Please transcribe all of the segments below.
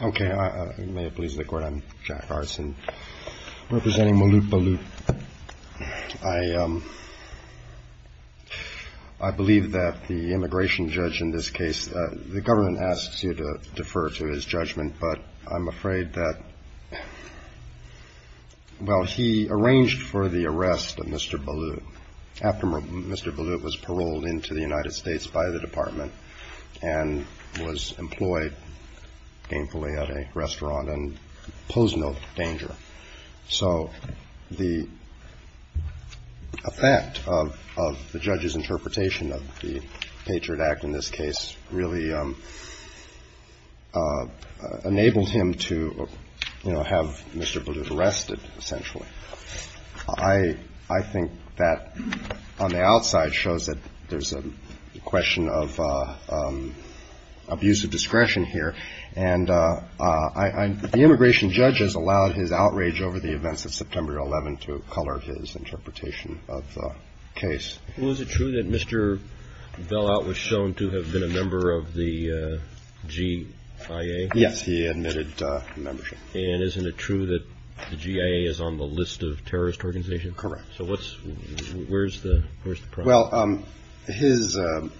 I believe that the immigration judge in this case, the government asks you to defer to his judgment, but I'm afraid that, well, he arranged for the arrest of Mr. Ballout after Mr. Ballout was paroled into the United States by the department and was employed gainfully at a restaurant and posed no danger. So the effect of the judge's interpretation of the Patriot Act in this case really enabled him to, you know, have Mr. Ballout arrested, essentially. I think that on the outside shows that there's a question of abuse of discretion here, and the immigration judge has allowed his outrage over the events of September 11 to color his interpretation of the case. Well, is it true that Mr. Ballout was shown to have been a member of the GIA? Yes, he admitted membership. And isn't it true that the GIA is on the list of terrorist organizations? Correct. So where's the problem? Well,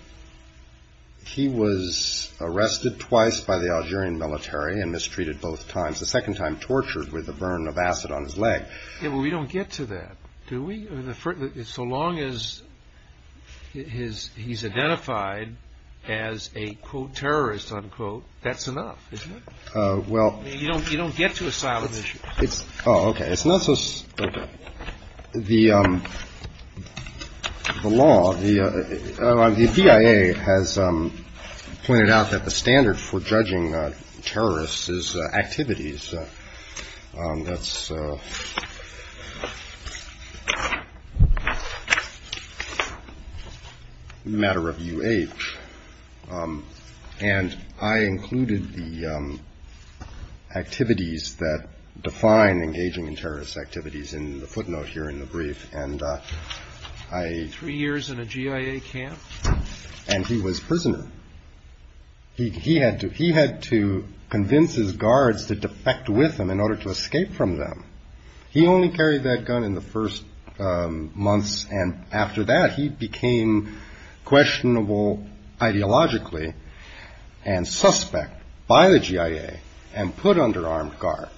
he was arrested twice by the Algerian military and mistreated both times, the second time tortured with a burn of acid on his leg. We don't get to that, do we? So long as he's identified as a, quote, terrorist, unquote, that's enough, isn't it? You don't get to asylum issues. Oh, okay. It's not so – the law, the GIA has pointed out that the standard for judging activities that define engaging in terrorist activities in the footnote here in the brief, and I – Three years in a GIA camp? And he was prisoner. He had to convince his guards to defect with him in order to escape from them. He only carried that gun in the first months, and after that, he became questionable ideologically and suspect by the GIA and put under armed guard.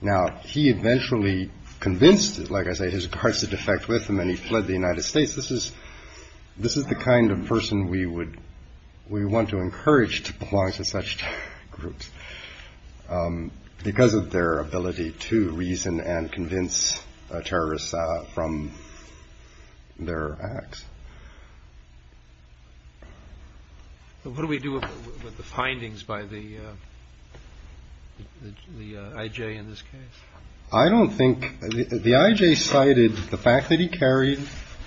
Now, he eventually convinced, like I say, his guards to defect with him, and he fled the United States. This is – this is the kind of person we would – we want to encourage to belong to such groups because of their ability to reason and convince terrorists from their acts. What do we do with the findings by the I.J. in this case? I don't think – the I.J. cited the fact that he carried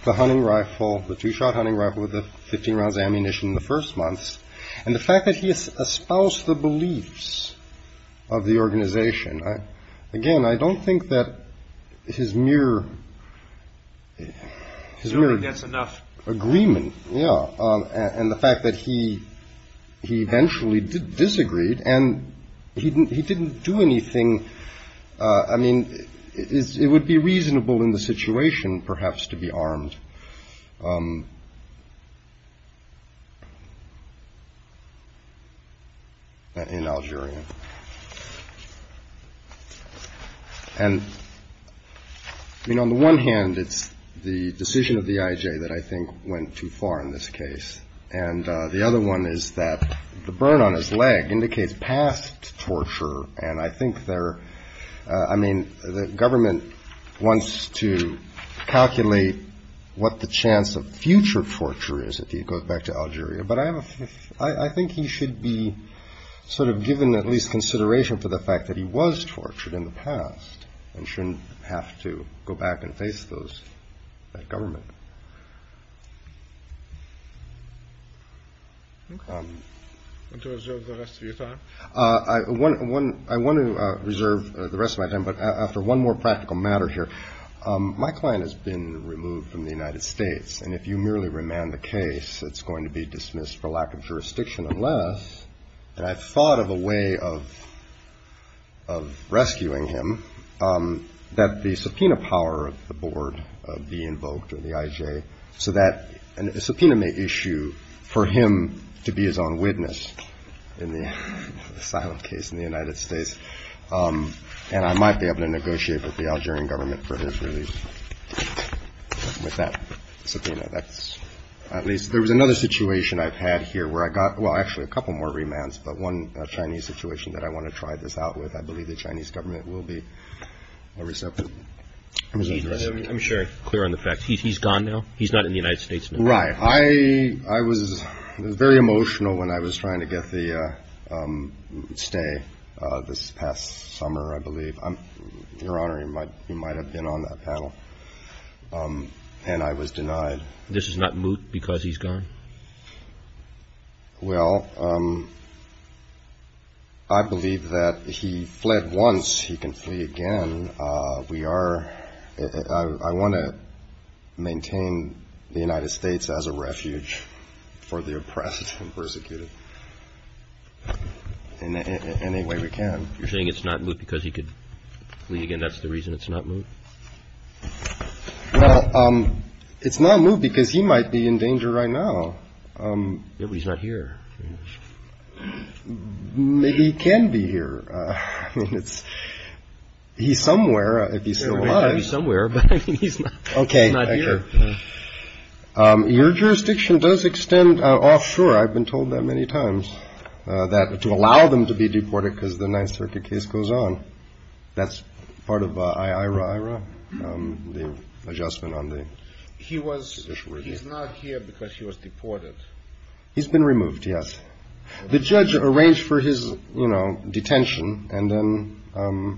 the hunting rifle, the two-shot hunting rifle with the 15 rounds of ammunition in the first months, and the fact that he espoused the beliefs of the organization. Again, I don't think that his mere – his mere – He only gets enough – Agreement, yeah, and the fact that he eventually disagreed and he didn't do anything – I mean, on the one hand, it's the decision of the I.J. that I think went too far in this case, and the other one is that the burn on his leg indicates past torture, and I think there – I mean, the government wants to calculate what the chance of future torture is if he goes back to Algeria, but I have a – I think he should be sort of given at least consideration for the fact that he was tortured in the past and shouldn't have to go back and face those – that government. Okay. Want to reserve the rest of your time? I want to reserve the rest of my time, but after one more practical matter here. My client has been removed from the United States, and if you merely remand the case, it's going to be dismissed for lack of jurisdiction unless – and I've thought of a way of rescuing him – that the subpoena power of the board be invoked, or the IJ, so that a subpoena may issue for him to be his own witness in the asylum case in the United States, and I might be able to negotiate with the Algerian government for his release with that subpoena. That's – at least there was another situation I've had here where I got – well, actually a couple more remands, but one Chinese situation that I want to try this out with. I believe the Chinese government will be receptive. I'm sure you're clear on the facts. He's gone now? He's not in the United States now? Right. I was very emotional when I was trying to get the stay this past summer, I believe. Your Honor, he might have been on that panel, and I was denied. This is not moot because he's gone? Well, I believe that he fled once. He can flee again. We are – I want to maintain the United States as a refuge for the oppressed and persecuted in any way we can. You're saying it's not moot because he could flee again? That's the reason it's not moot? Well, it's not moot because he might be in danger right now. Yeah, but he's not here. Maybe he can be here. I mean, it's – he's somewhere, if he's still alive. Yeah, he might be somewhere, but I mean, he's not here. Okay. Your jurisdiction does extend offshore, I've been told that many times, that – to the adjustment on the – He was – he's not here because he was deported. He's been removed, yes. The judge arranged for his, you know, detention, and then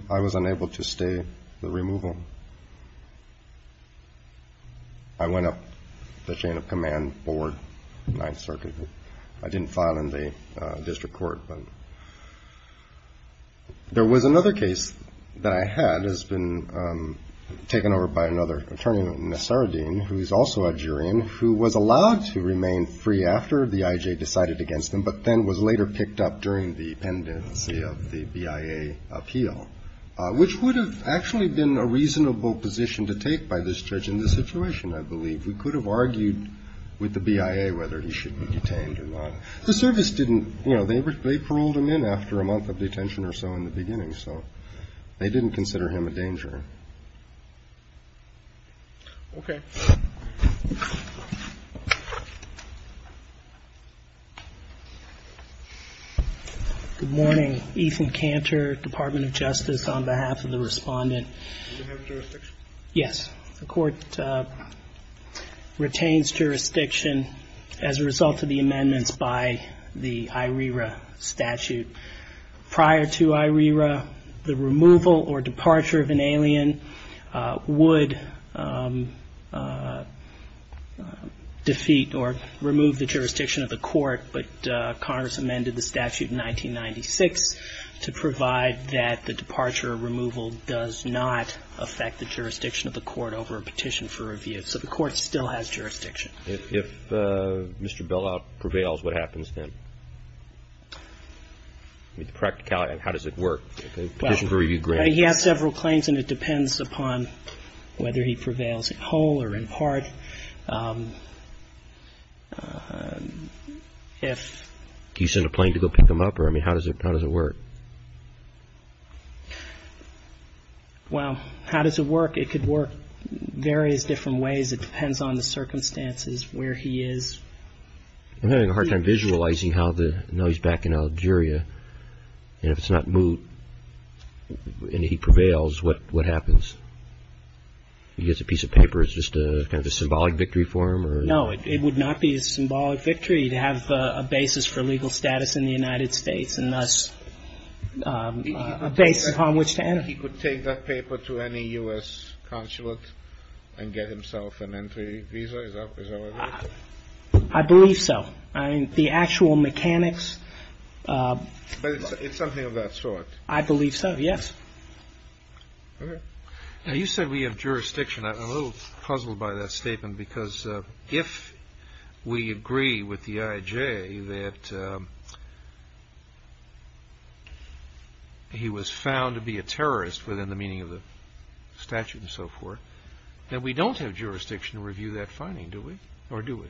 I was unable to stay the removal. I went up the chain of command board, Ninth Circuit. I didn't file in the district court, but there was another case that I had has been taken over by another attorney, Nasaruddin, who is also a Jurian, who was allowed to remain free after the IJ decided against him, but then was later picked up during the pendency of the BIA appeal, which would have actually been a reasonable position to take by this judge in this situation, I believe. We could have argued with the BIA whether he should be detained or not. The service didn't – you know, they paroled him in after a month of detention or so in the beginning, so they didn't consider him a danger. Okay. Good morning. Ethan Cantor, Department of Justice, on behalf of the Respondent. Do you have jurisdiction? Yes. The court retains jurisdiction as a result of the amendments by the IRERA statute. Prior to IRERA, the removal or departure of an alien would defeat or remove the jurisdiction of the court, but Congress amended the statute in 1996 to provide that the departure or removal does not affect the jurisdiction of the court over a petition for review. So the court still has jurisdiction. If Mr. Bellout prevails, what happens then? I mean, the practicality of it, how does it work? Well, he has several claims, and it depends upon whether he prevails whole or in part. Do you send a plane to go pick him up? I mean, how does it work? Well, how does it work? It could work various different ways. It depends on the circumstances, where he is. I'm having a hard time visualizing how the – now he's back in Algeria, and if it's not moot and he prevails, what happens? He gets a piece of paper, it's just kind of a symbolic victory for him? No, it would not be a symbolic victory to have a basis for legal status in the United States and thus a basis upon which to enter. He could take that paper to any U.S. consulate and get himself an entry visa? Is that what it is? I believe so. I mean, the actual mechanics – But it's something of that sort. I believe so, yes. Now, you said we have jurisdiction. I'm a little puzzled by that statement, because if we agree with the IJ that he was found to be a terrorist within the meaning of the statute and so forth, then we don't have jurisdiction to review that finding, do we? Or do we?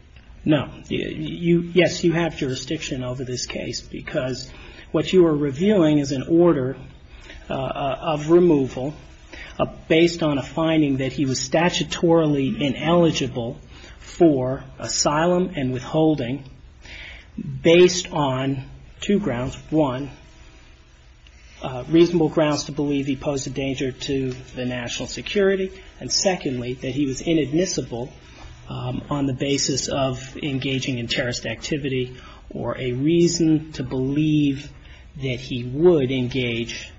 No. Yes, you have jurisdiction over this case, because what you are reviewing is an order of removal based on a finding that he was statutorily ineligible for asylum and withholding based on two grounds. One, reasonable grounds to believe he posed a danger to the national security, and secondly, that he was inadmissible on the basis of engaging in terrorist activity or a reason to believe that he would engage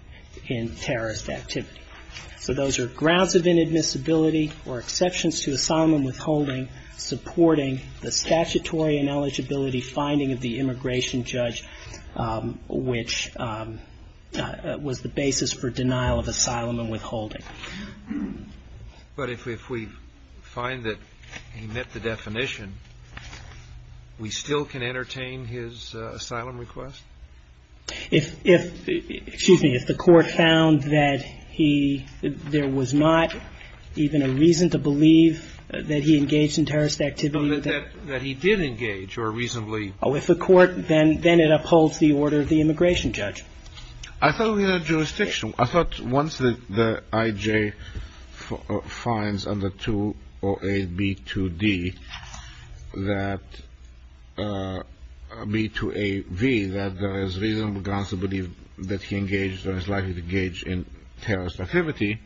in terrorist activity. So those are grounds of inadmissibility or exceptions to asylum and withholding supporting the statutory ineligibility finding of the immigration judge, which was the basis for denial of asylum and withholding. But if we find that he met the definition, we still can entertain his asylum request? If, excuse me, if the Court found that he, there was not even a reason to believe that he engaged in terrorist activity. That he did engage or reasonably. Oh, if the Court, then it upholds the order of the immigration judge. I thought we had jurisdiction. I thought once the IJ finds under 208B2D that, B2AV, that there is reasonable grounds to believe that he engaged or is likely to engage in terrorist activity,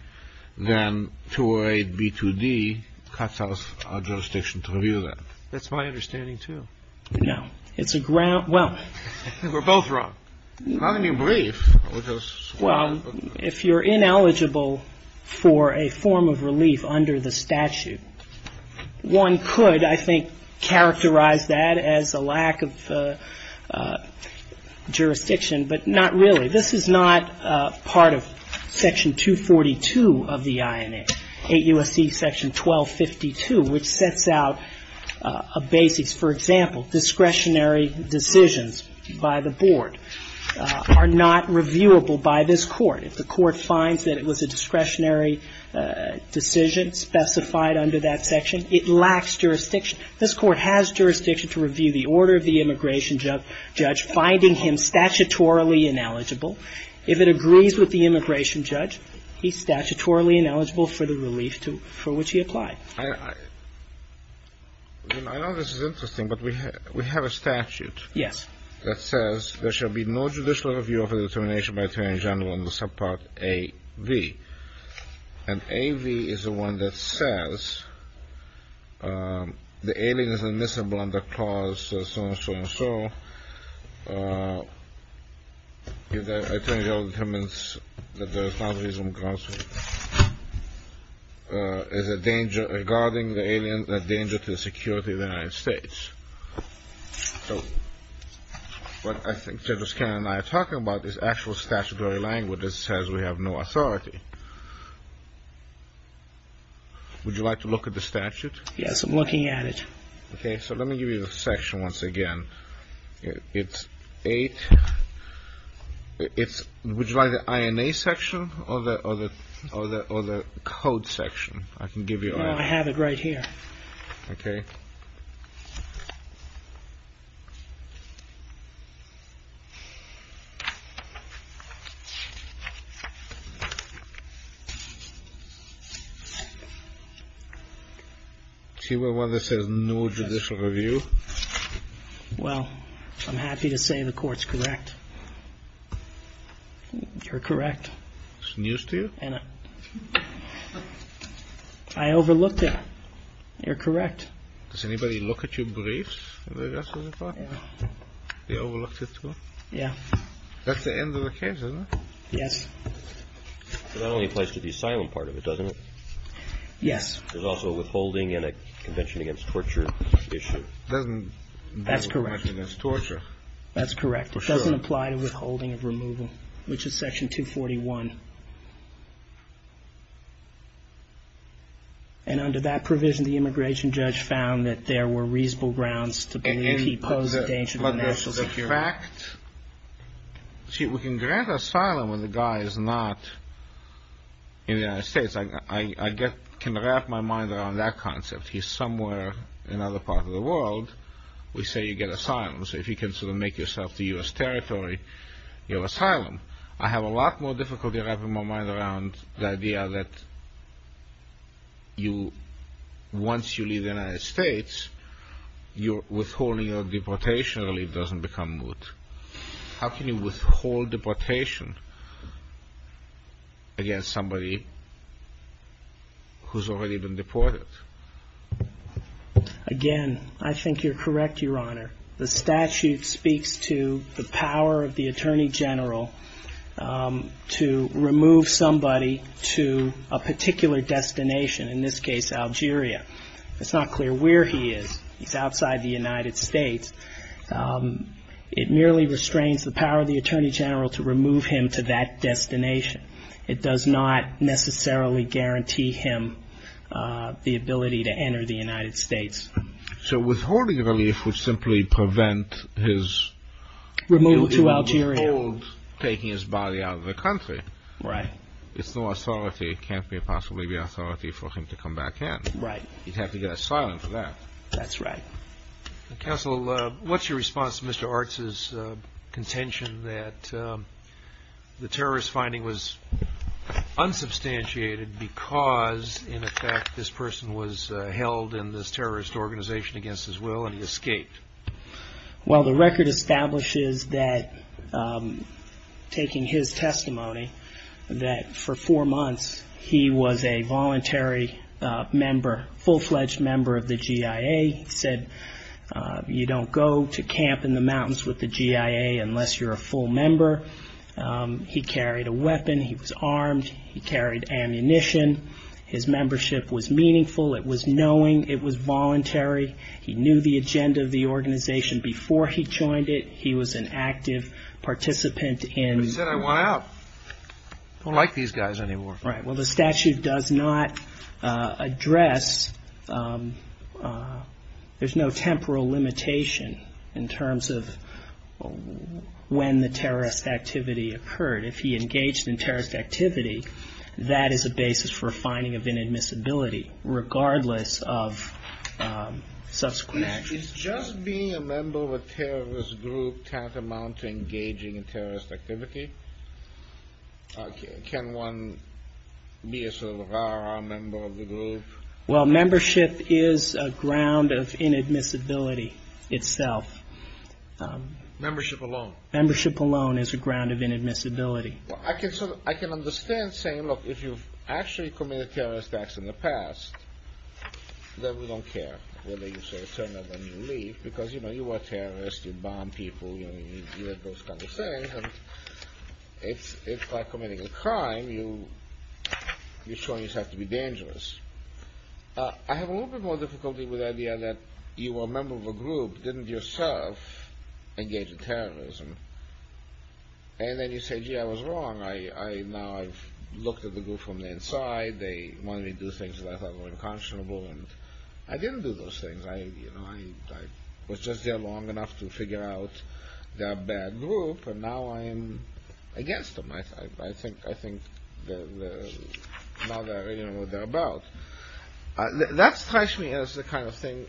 then 208B2D cuts off our jurisdiction to review that. That's my understanding, too. Yeah. It's a ground, well. We're both wrong. Well, if you're ineligible for a form of relief under the statute, one could, I think, characterize that as a lack of jurisdiction, but not really. This is not part of Section 242 of the INA, 8 U.S.C. Section 1252, which sets out a basis, for example, discretionary decisions by the board are not reviewable by this Court. If the Court finds that it was a discretionary decision specified under that section, it lacks jurisdiction. This Court has jurisdiction to review the order of the immigration judge, finding him statutorily ineligible. If it agrees with the immigration judge, he's statutorily ineligible for the relief to, for which he applied. I know this is interesting, but we have a statute. Yes. That says there shall be no judicial review of a determination by attorney general under subpart AV. And AV is the one that says the alien is admissible under clause so-and-so-and-so. If the attorney general determines that there is no reasonable cause for it, is a danger regarding the alien a danger to the security of the United States. So what I think Judge O'Connor and I are talking about is actual statutory language that says we have no authority. Would you like to look at the statute? Yes, I'm looking at it. Okay. So let me give you the section once again. It's eight. Would you like the INA section or the code section? I can give you INA. I have it right here. Okay. See where it says no judicial review? Well, I'm happy to say the court's correct. You're correct. It's news to you? I overlooked it. You're correct. Does anybody look at your briefs? They overlooked it too? Yeah. That's the end of the case, isn't it? Yes. It only applies to the asylum part of it, doesn't it? Yes. There's also withholding in a convention against torture issue. That's correct. Convention against torture. That's correct. It doesn't apply to withholding of removal, which is section 241. And under that provision, the immigration judge found that there were reasonable grounds to believe he posed a danger to national security. See, we can grant asylum when the guy is not in the United States. I can wrap my mind around that concept. He's somewhere in another part of the world. We say you get asylum. So if you can sort of make yourself the U.S. territory, you have asylum. I have a lot more difficulty wrapping my mind around the idea that once you leave the United States, withholding of deportation relief doesn't become moot. How can you withhold deportation against somebody who's already been deported? Again, I think you're correct, Your Honor. The statute speaks to the power of the attorney general to remove somebody to a particular destination, in this case, Algeria. It's not clear where he is. He's outside the United States. It merely restrains the power of the attorney general to remove him to that destination. It does not necessarily guarantee him the ability to enter the United States. So withholding relief would simply prevent his removal to Algeria, taking his body out of the country. Right. It's no authority. It can't possibly be authority for him to come back in. Right. He'd have to get asylum for that. That's right. Counsel, what's your response to Mr. Artz's contention that the terrorist finding was unsubstantiated because, in effect, this person was held in this terrorist organization against his will and he escaped? Well, the record establishes that, taking his testimony, that for four months he was a voluntary member, full-fledged member of the GIA. He said, you don't go to camp in the mountains with the GIA unless you're a full member. He carried a weapon. He was armed. He carried ammunition. His membership was meaningful. It was knowing. It was voluntary. He knew the agenda of the organization before he joined it. He was an active participant in- But he said, I want out. I don't like these guys anymore. Right. Well, the statute does not address. There's no temporal limitation in terms of when the terrorist activity occurred. If he engaged in terrorist activity, that is a basis for a finding of inadmissibility, regardless of subsequent actions. Is just being a member of a terrorist group tantamount to engaging in terrorist activity? Can one be a member of the group? Well, membership is a ground of inadmissibility itself. Membership alone? Membership alone is a ground of inadmissibility. Well, I can understand saying, look, if you've actually committed terrorist acts in the past, then we don't care whether you say it's a turn of a new leaf. Because, you know, you are terrorists. You bomb people. You do those kind of things. And it's like committing a crime. You're showing you have to be dangerous. I have a little bit more difficulty with the idea that you are a member of a group, didn't yourself engage in terrorism. And then you say, gee, I was wrong. Now I've looked at the group from the inside. They wanted me to do things that I thought were unconscionable. And I didn't do those things. I was just there long enough to figure out they're a bad group. And now I am against them. I think now they're what they're about. That strikes me as the kind of thing,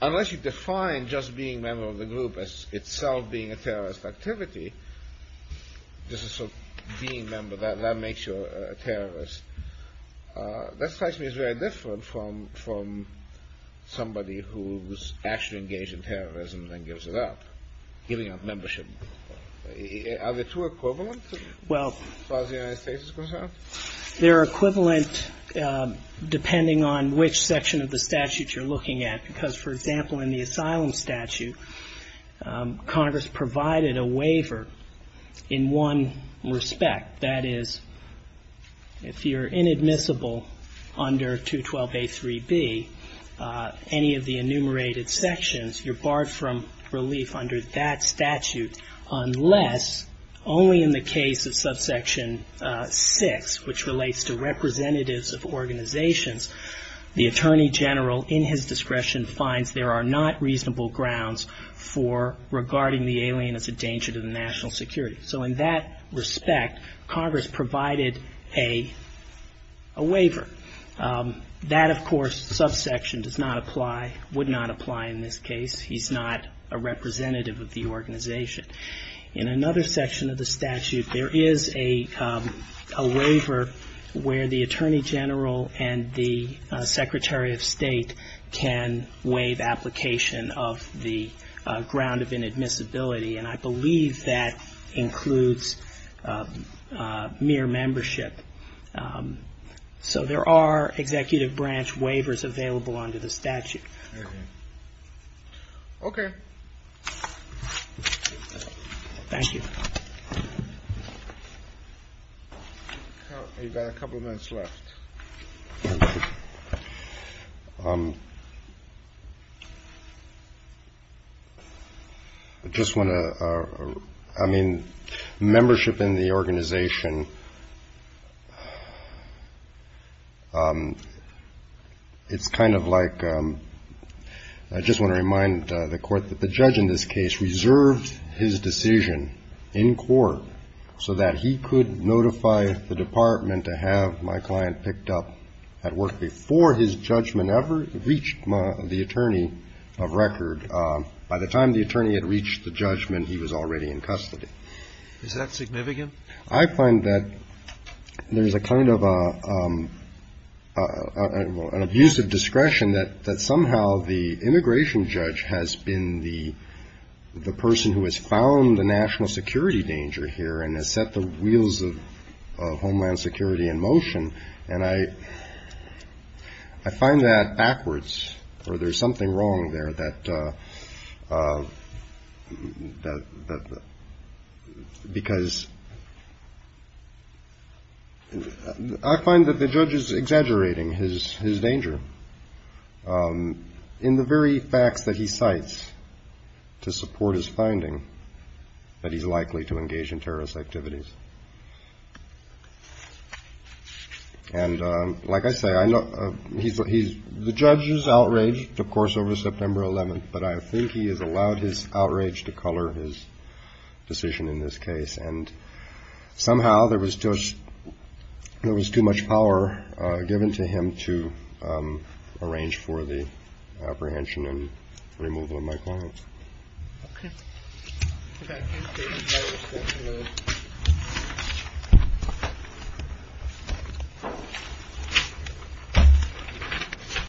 unless you define just being a member of the group as itself being a terrorist activity, this is sort of being a member, that makes you a terrorist, that strikes me as very different from somebody who's actually engaged in terrorism and then gives it up, giving up membership. Are the two equivalent as far as the United States is concerned? They're equivalent depending on which section of the statute you're looking at. Because, for example, in the asylum statute, Congress provided a waiver in one respect. That is, if you're inadmissible under 212a3b, any of the enumerated sections, you're barred from relief under that statute unless only in the case of subsection 6, which relates to representatives of organizations, the attorney general in his discretion finds there are not reasonable grounds for regarding the alien as a danger to the national security. So in that respect, Congress provided a waiver. That, of course, subsection does not apply, would not apply in this case. He's not a representative of the organization. In another section of the statute, there is a waiver where the attorney general and the secretary of state can waive application of the ground of inadmissibility, and I believe that includes mere membership. So there are executive branch waivers available under the statute. Okay. Thank you. You've got a couple of minutes left. Thank you. I just want to, I mean, membership in the organization, it's kind of like, I just want to remind the court that the judge in this case reserved his decision in court so that he could notify the department to have my client picked up at work before his judgment ever reached the attorney of record. By the time the attorney had reached the judgment, he was already in custody. Is that significant? I find that there is a kind of an abusive discretion that somehow the immigration judge has been the person who has found the national security danger here, and has set the wheels of homeland security in motion, and I find that backwards, or there's something wrong there, because I find that the judge is exaggerating his danger. In the very facts that he cites to support his finding that he's likely to engage in terrorism, he's likely to engage in terrorist activities. And like I say, I know he's the judge's outrage, of course, over September 11th. But I think he has allowed his outrage to color his decision in this case. And somehow there was just there was too much power given to him to arrange for the apprehension and removal of my client. Thank you.